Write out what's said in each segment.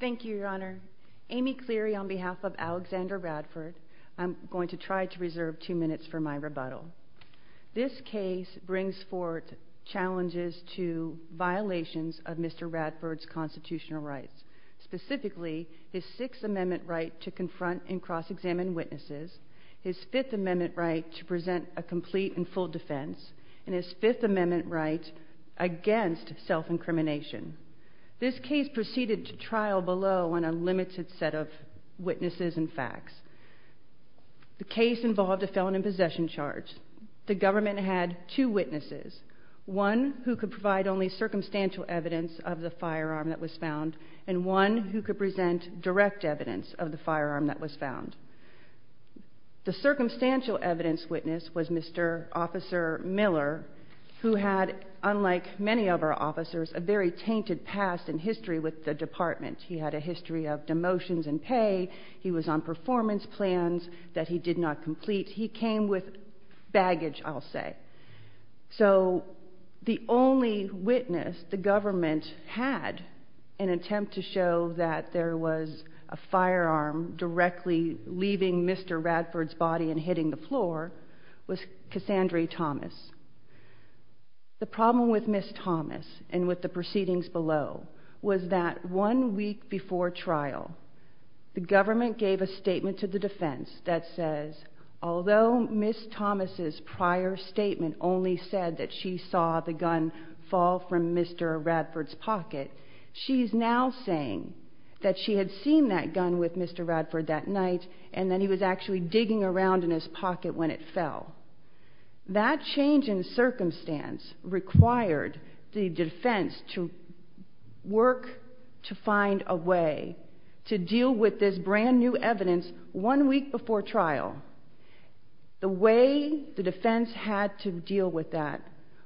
Thank you, Your Honor. Amy Cleary, on behalf of Alexander Radford, I'm going to try to reserve two minutes for my rebuttal. This case brings forward challenges to violations of Mr. Radford's constitutional rights, specifically his Sixth Amendment right to confront and cross-examine witnesses, his Fifth Amendment right to present a complete and full defense, and his Fifth Amendment right against self-incrimination. This case proceeded to trial below on a limited set of witnesses and facts. The case involved a felon in possession charge. The government had two witnesses, one who could provide only circumstantial evidence of the firearm that was found, and one who could present direct evidence of the firearm that was found. The had, unlike many of our officers, a very tainted past and history with the department. He had a history of demotions and pay. He was on performance plans that he did not complete. He came with baggage, I'll say. So the only witness the government had in an attempt to show that there was a firearm directly leaving Mr. Radford's body and hitting the floor was Cassandre Thomas. The problem with Ms. Thomas and with the proceedings below was that one week before trial, the government gave a statement to the defense that says, although Ms. Thomas's prior statement only said that she saw the gun fall from Mr. Radford's pocket, she's now saying that she had seen that gun with Mr. Radford that night, and that he was actually That change in circumstance required the defense to work to find a way to deal with this brand new evidence one week before trial. The way the defense had to deal with that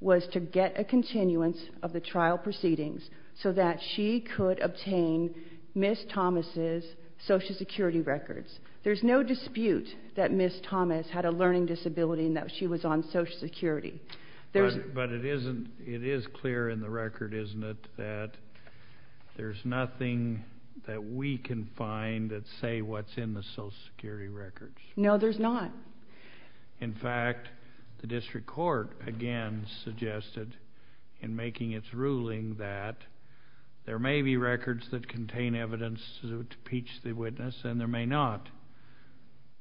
was to get a continuance of the trial proceedings so that she could obtain Ms. Thomas's Social Security records. There's no dispute that Ms. Thomas had a learning disability and that she was on Social Security. But it is clear in the record, isn't it, that there's nothing that we can find that say what's in the Social Security records? No, there's not. In fact, the district court again suggested in making its ruling that there may be records that contain evidence to impeach the witness and there may not.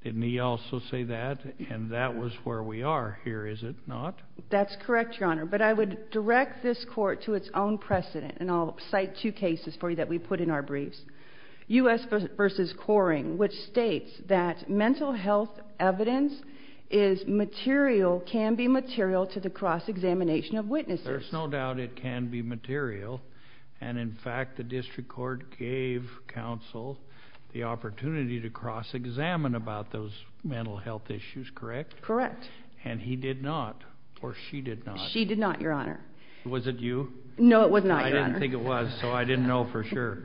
Didn't he also say that? And that was where we are here, is it not? That's correct, Your Honor. But I would direct this court to its own precedent, and I'll cite two cases for you that we put in our briefs. U.S. v. Coring, which states that mental health evidence is material, can be material to the cross-examination of witnesses. There's no doubt it can be material, and in fact the district court gave counsel the opportunity to cross-examine about those mental health issues, correct? Correct. And he did not, or she did not. She did not, Your Honor. Was it you? No, it was not, Your Honor. I didn't think it was, so I didn't know for sure.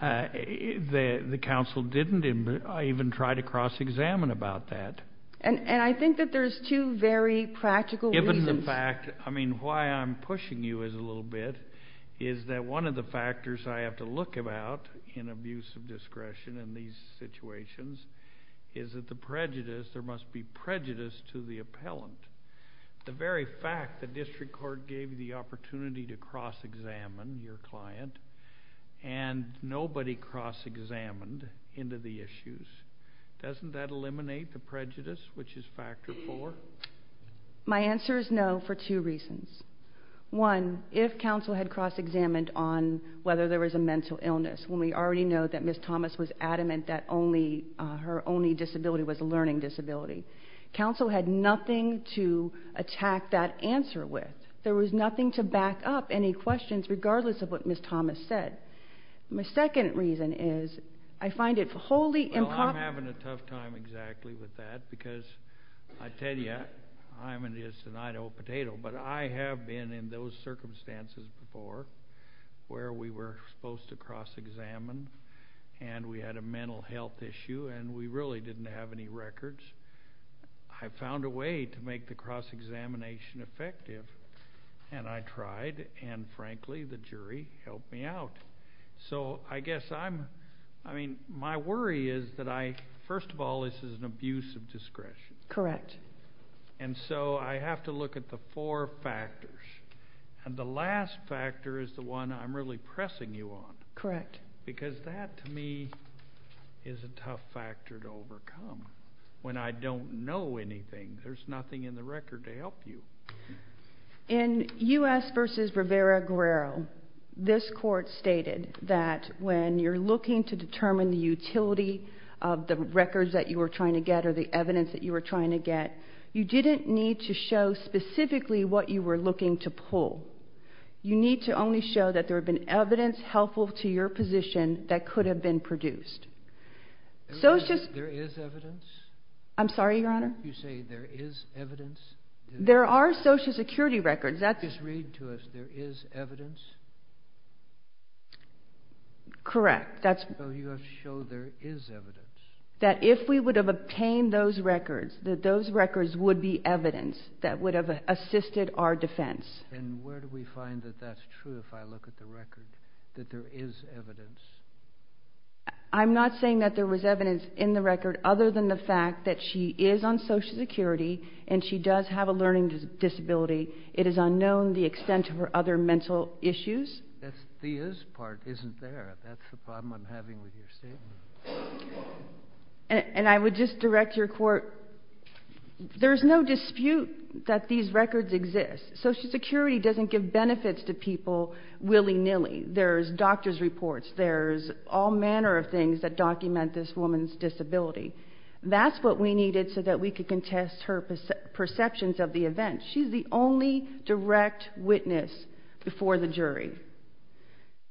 The counsel didn't even try to cross-examine about that. And I think that there's two very practical reasons. Given the fact, I mean, why I'm pushing you is a little bit, is that one of the factors I have to look about in abuse of discretion in these situations is that the prejudice, there must be prejudice to the appellant. The very fact the district court gave you the opportunity to cross-examine your client, and nobody cross-examined into the issues, doesn't that eliminate the prejudice, which is factor four? My answer is no for two reasons. One, if counsel had cross-examined on whether there was a mental illness, when we already know that Ms. Thomas was adamant that only, her only disability was a learning disability, counsel had nothing to attack that answer with. There was nothing to back up any questions regardless of what Ms. Thomas said. My second reason is, I find it wholly improper. Well, I'm having a tough time exactly with that, because I tell you, I'm an instant potato, but I have been in those circumstances before, where we were supposed to cross-examine, and we had a mental health issue, and we really didn't have any records. I found a way to make the cross-examination effective, and I tried, and frankly, the jury helped me out. So I guess I'm, I mean, my worry is that I, first of all, this is an abuse of discretion. Correct. And so I have to look at the four factors, and the last factor is the one I'm really pressing you on. Correct. Because that, to me, is a tough factor to overcome. When I don't know anything, there's nothing in the record to help you. In U.S. v. Rivera-Guerrero, this court stated that when you're looking to determine the utility of the records that you were trying to get, or the evidence that you were trying to get, you didn't need to show specifically what you were looking to pull. You need to only show that there have been evidence helpful to your position that could have been produced. So it's just... There is evidence? I'm sorry, Your Honor? You say there is evidence? There are Social Security records. Just read to us, there is evidence? Correct. So you have to show there is evidence? That if we would have obtained those records, that those records would be evidence that would have assisted our defense. And where do we find that that's true, if I look at the record, that there is evidence? I'm not saying that there was evidence in the record other than the fact that she is on Social Security, and she does have a learning disability. It is unknown the extent of her other mental issues. That's the is part isn't there. That's the problem I'm having with your statement. And I would just direct your court, there's no dispute that these records exist. Social Security doesn't give benefits to people willy-nilly. There's doctor's reports, there's all manner of things that document this woman's disability. That's what we needed so that we could contest her perceptions of the event. She's the only direct witness before the jury.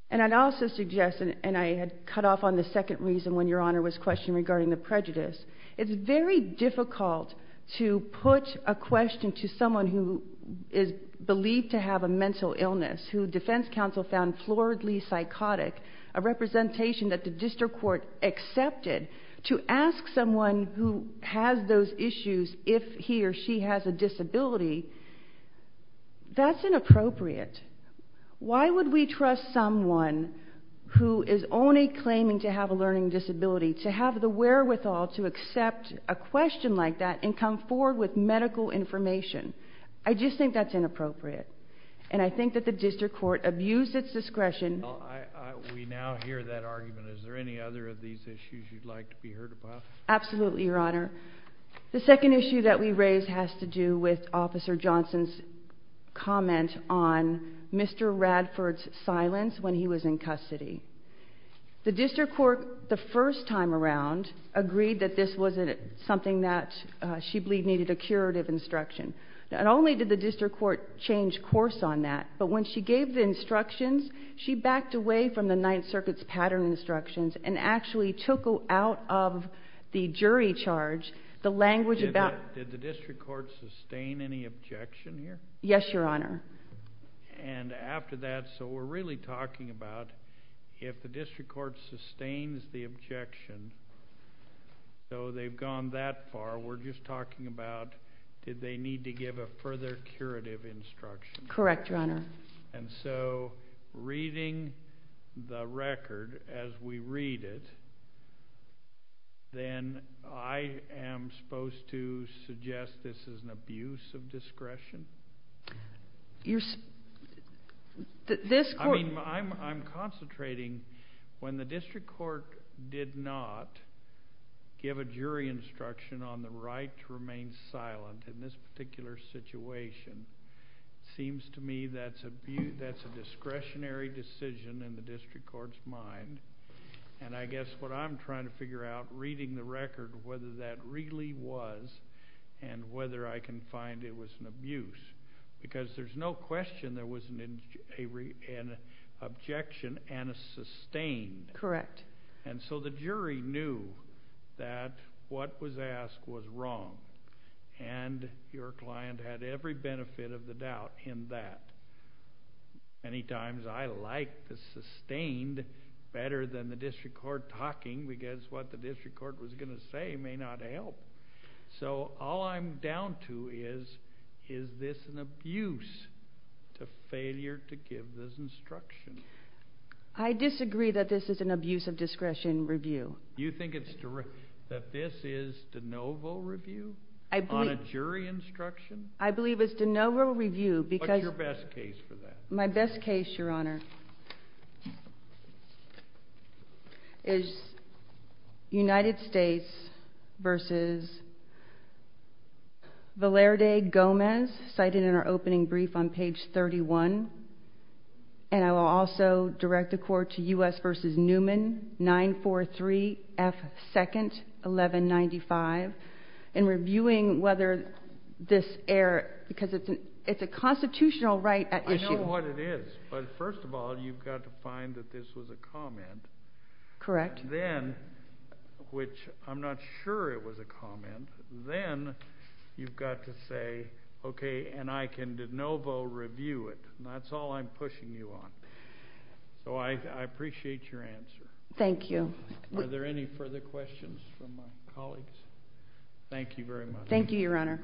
And I'd also suggest, and I had cut off on the second reason when your Honor was questioning regarding the prejudice, it's very difficult to put a question to someone who is believed to have a mental illness, who defense counsel found floridly psychotic, a representation that the district court accepted, to ask someone who has those issues if he or she has a disability, that's inappropriate. Why would we trust someone who is only claiming to have a learning disability to have the wherewithal to accept a question like that and come forward with medical information? I just think that's inappropriate. And I think that the district court abused its discretion. We now hear that argument. Is there any other of these issues you'd like to be heard about? Absolutely, your Honor. The second issue that we raise has to do with Officer Johnson's comment on Mr. Radford's silence when he was in custody. The district court the first time around agreed that this wasn't something that she believed needed a curative instruction. Not only did the district court change course on that, but when she gave the instructions, she backed away from the Ninth Circuit's pattern instructions and actually took out of the jury charge the language about... Did the district court sustain any objection here? Yes, your Honor. And after that, so we're really talking about if the district court sustains the objection, so they've gone that far. We're just talking about did they need to give a further curative instruction? Correct, your Honor. And so reading the record as we read it, then I am supposed to suggest this is an abuse of discretion? You're... This court... I'm concentrating. When the district court did not give a jury instruction on the right to remain silent in this particular situation, seems to me that's a discretionary decision in the district court's mind. And I guess what I'm trying to figure out reading the record, whether that really was and whether I can find it was an and so the jury knew that what was asked was wrong. And your client had every benefit of the doubt in that. Many times I like the sustained better than the district court talking because what the district court was going to say may not help. So all I'm down to is, is this an abuse to discretion review? You think it's direct... That this is de novo review? I believe... On a jury instruction? I believe it's de novo review because... What's your best case for that? My best case, your Honor, is United States versus Valerde Gomez cited in our opening brief on page 31. And I will also direct the court to U.S. versus Newman, 943 F. 2nd, 1195. And reviewing whether this error... Because it's a constitutional right at issue. I know what it is. But first of all, you've got to find that this was a comment. Correct. Then, which I'm not sure it was a comment, then you've got to say, okay, and I can de novo review it. That's all I'm pushing you on. So I appreciate your answer. Thank you. Are there any further questions from my colleagues? Thank you very much. Thank you, Your Honor.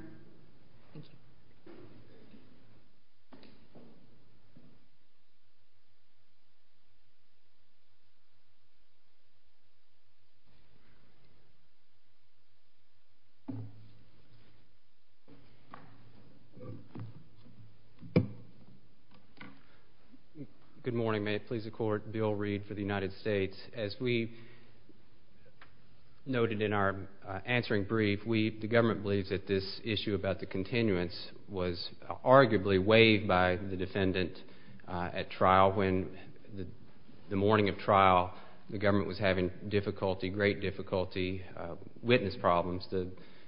Good morning. May it please the court, Bill Reed for the United States. As we noted in our answering brief, the government believes that this issue about the continuance was arguably waived by the defendant at trial when the morning of trial, the government was having difficulty, great difficulty, witness problems.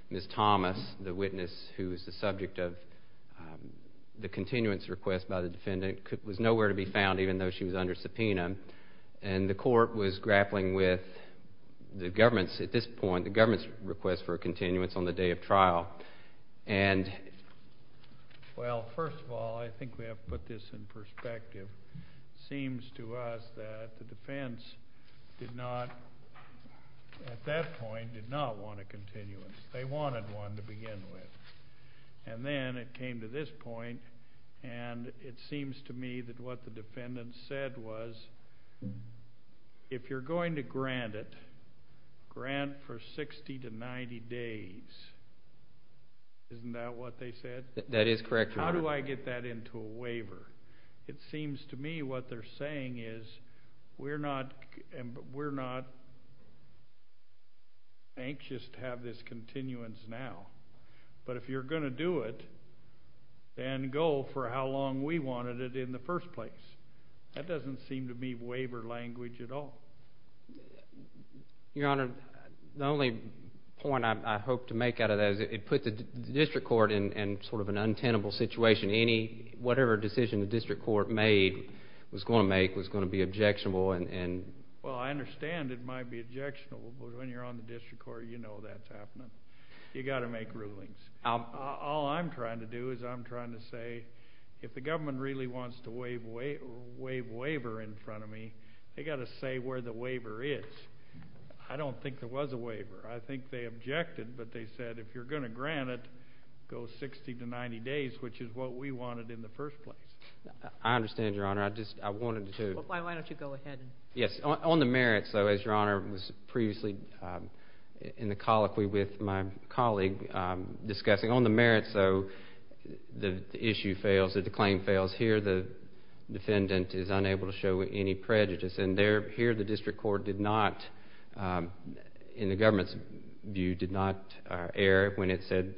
Ms. Thomas, the witness who is the subject of the continuance request by the defendant, was nowhere to be found even though she was under subpoena. And the court was grappling with the government's, at this point, the government's request for a continuance on the day of trial. And... Well, first of all, I think we have to put this in perspective. Seems to us that the defense did not, at that point, did not want a continuance. They wanted one to begin with. And then it came to this point, and it seems to me that what the defendant said was, if you're going to grant it, grant for 60 to 90 days, isn't that what they said? That is correct, Your Honor. How do I get that into a waiver? It seems to me what they're saying is, we're not, we're not anxious to have this continuance now. But if you're going to do it, then go for how long we wanted it in the first place. That doesn't seem to me waiver language at all. Your Honor, the only point I hope to make out of that is it put the district court in sort of an untenable situation. Any, whatever decision the district court made, was going to make, was going to be objectionable and... Well, I understand it might be objectionable, but when you're on the district court, you know that's happening. You got to make rulings. All I'm trying to do is I'm trying to say, if the government really wants to waive waiver in front of me, they got to say where the waiver is. I don't think there was a waiver. I think they objected, but they said, if you're going to grant it, go 60 to 90 days, which is what we wanted in the first place. I understand, Your Honor. I just, I wanted to... Why don't you go ahead. Yes, on the merits, though, as Your Honor was previously in the colloquy with my colleague discussing, on the merits, though, the issue fails, that the claim fails. Here, the defendant is unable to show any prejudice, and there, here, the district court did not, in the government's view, did not err when it said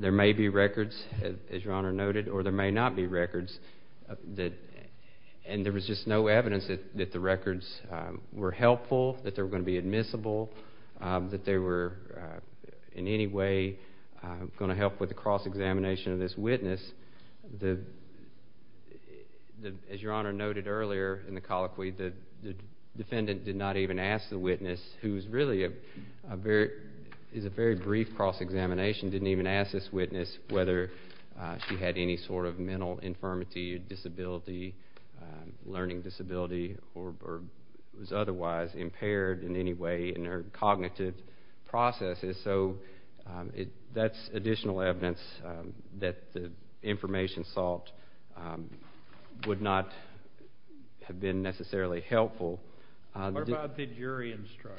there may be records, as Your Honor noted, or there may not be records, that, and there was just no evidence that the records were helpful, that they were going to be admissible, that they were, in any way, going to help with the cross-examination of this witness. The, as Your Honor noted earlier in the colloquy, the defendant did not even ask the witness, who is really a very, is a very brief cross-examination, didn't even ask this witness whether she had any sort of mental infirmity, disability, learning disability, or was otherwise impaired in any way in her cognitive processes. So, it, that's additional evidence that the information sought would not have been necessarily helpful. What about the jury instruction?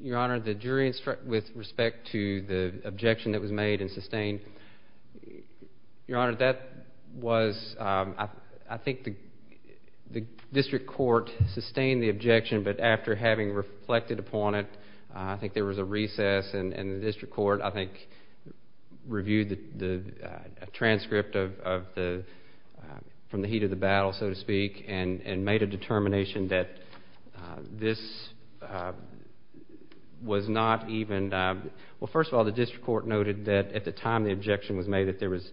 Your Honor, the jury instruction, with respect to the objection that was made and sustained, Your Honor, that was, I think the district court sustained the objection, but after having reflected upon it, I think there was a recess, and the district court, I think, reviewed the transcript of the, from the heat of the battle, so to speak, and made a determination that this was not even, well, first of all, the district court noted that at the time the objection was made, that there was,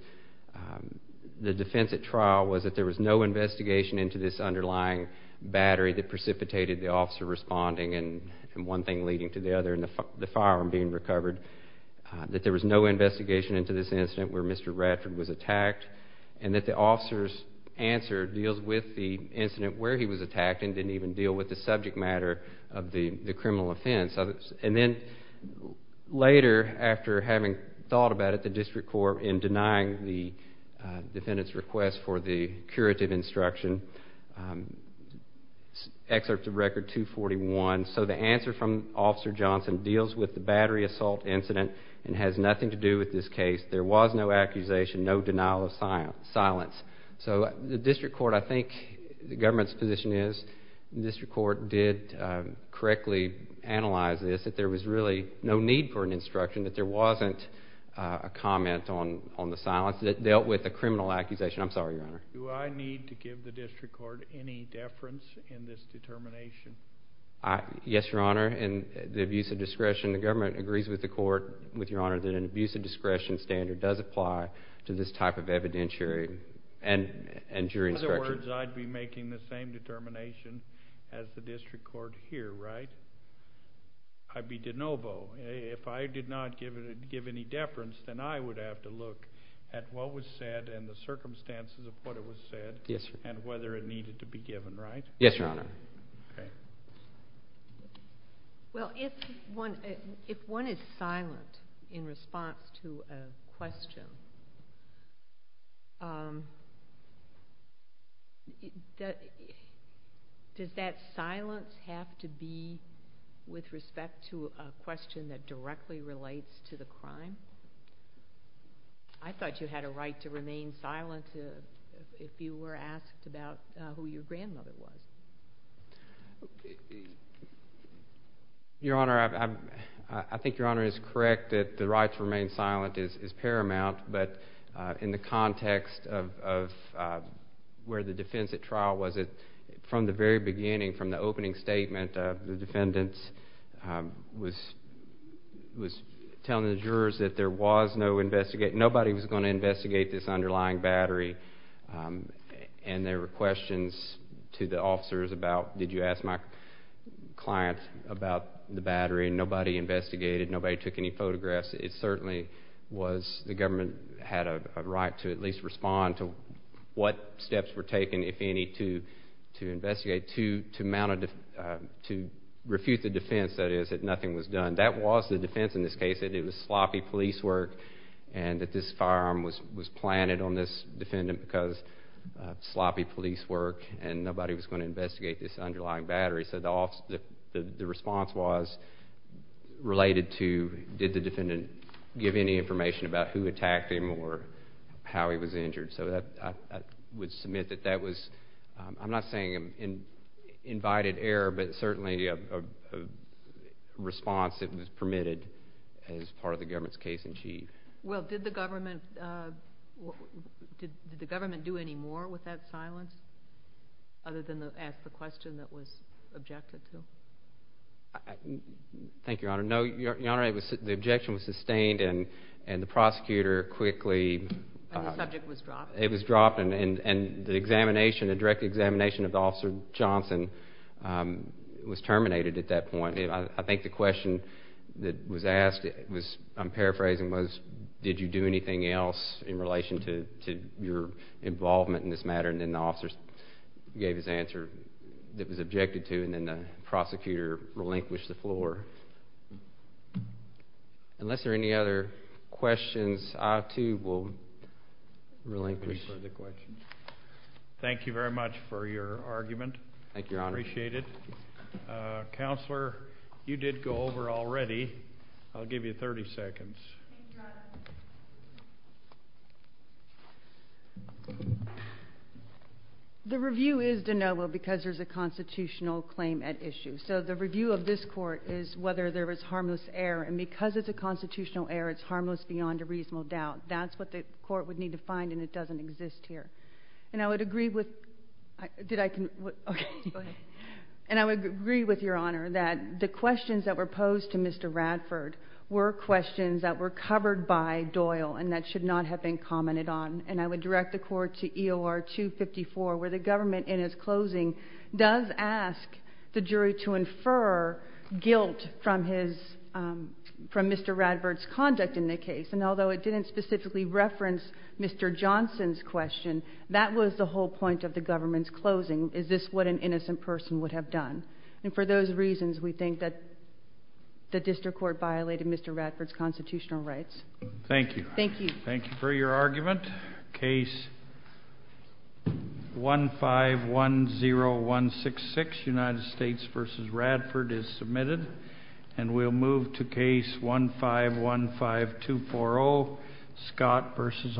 the defense at trial was that there was no investigation into this underlying battery that precipitated the officer responding, and one thing leading to the other, and the firearm being recovered, that there was no investigation into this incident where Mr. Radford was attacked, and that the officer's answer deals with the incident where he was attacked, which is a subject matter of the criminal offense, and then later, after having thought about it, the district court, in denying the defendant's request for the curative instruction, excerpt of record 241, so the answer from Officer Johnson deals with the battery assault incident and has nothing to do with this case. There was no accusation, no denial of silence. So, the government's position is the district court did correctly analyze this, that there was really no need for an instruction, that there wasn't a comment on the silence, that it dealt with a criminal accusation. I'm sorry, Your Honor. Do I need to give the district court any deference in this determination? Yes, Your Honor, and the abuse of discretion, the government agrees with the court, with Your Honor, that an abuse of discretion standard does apply to this type of evidentiary and jury instructions. In other words, I'd be making the same determination as the district court here, right? I'd be de novo. If I did not give any deference, then I would have to look at what was said and the circumstances of what it was said and whether it needed to be given, right? Yes, Your Honor. Well, if one is silent in response to a question, does that silence have to be with respect to a question that directly relates to the crime? I thought you had a right to remain silent if you were asked about who your grandmother was. Your Honor, I think Your Honor is correct that the right to remain silent is paramount, but in the context of where the defense at trial was, from the very beginning, from the opening statement, the defendants was telling the jurors that nobody was going to investigate this to the officers about, did you ask my client about the battery? Nobody investigated. Nobody took any photographs. It certainly was, the government had a right to at least respond to what steps were taken, if any, to investigate, to refuse the defense, that is, that nothing was done. That was the defense in this case, that it was sloppy police work and that this firearm was planted on this defendant because of sloppy police work and nobody was going to investigate this underlying battery. So the response was related to, did the defendant give any information about who attacked him or how he was injured? So I would submit that that was, I'm not saying an invited error, but certainly a response that was permitted as part of the government's case in chief. Well, did the government do any more with that silence, other than ask the question that was objected to? Thank you, Your Honor. No, Your Honor, the objection was sustained and the prosecutor quickly... And the subject was dropped. It was dropped and the direct examination of Officer Johnson was terminated at that point. I think the question that was asked, I'm paraphrasing, was, did you do anything else in relation to your involvement in this matter? And then the officer gave his answer that was objected to and then the prosecutor relinquished the floor. Unless there are any other questions, I too will relinquish the question. Thank you very much for your argument. Thank you, Your Honor. Appreciate it. Counselor, you did go over already. I'll give you 30 seconds. The review is de novo because there's a constitutional claim at issue. So the review of this court is whether there was harmless error. And because it's a constitutional error, it's harmless beyond a reasonable doubt. That's what the court would need to find and it doesn't exist here. And I would agree with... Did I... Okay. Go ahead. And I would agree with Your Honor that the questions that were raised by Mr. Johnson and commented on. And I would direct the court to EOR 254, where the government in its closing does ask the jury to infer guilt from his... From Mr. Radford's conduct in the case. And although it didn't specifically reference Mr. Johnson's question, that was the whole point of the government's closing. Is this what an innocent person would have done? And for those reasons, we think that the district court violated Mr. Radford's constitutional rights. Thank you. Thank you. Thank you for your argument. Case 1510166, United States v. Radford is submitted. And we'll move to case 1515240, Scott v. Arnold.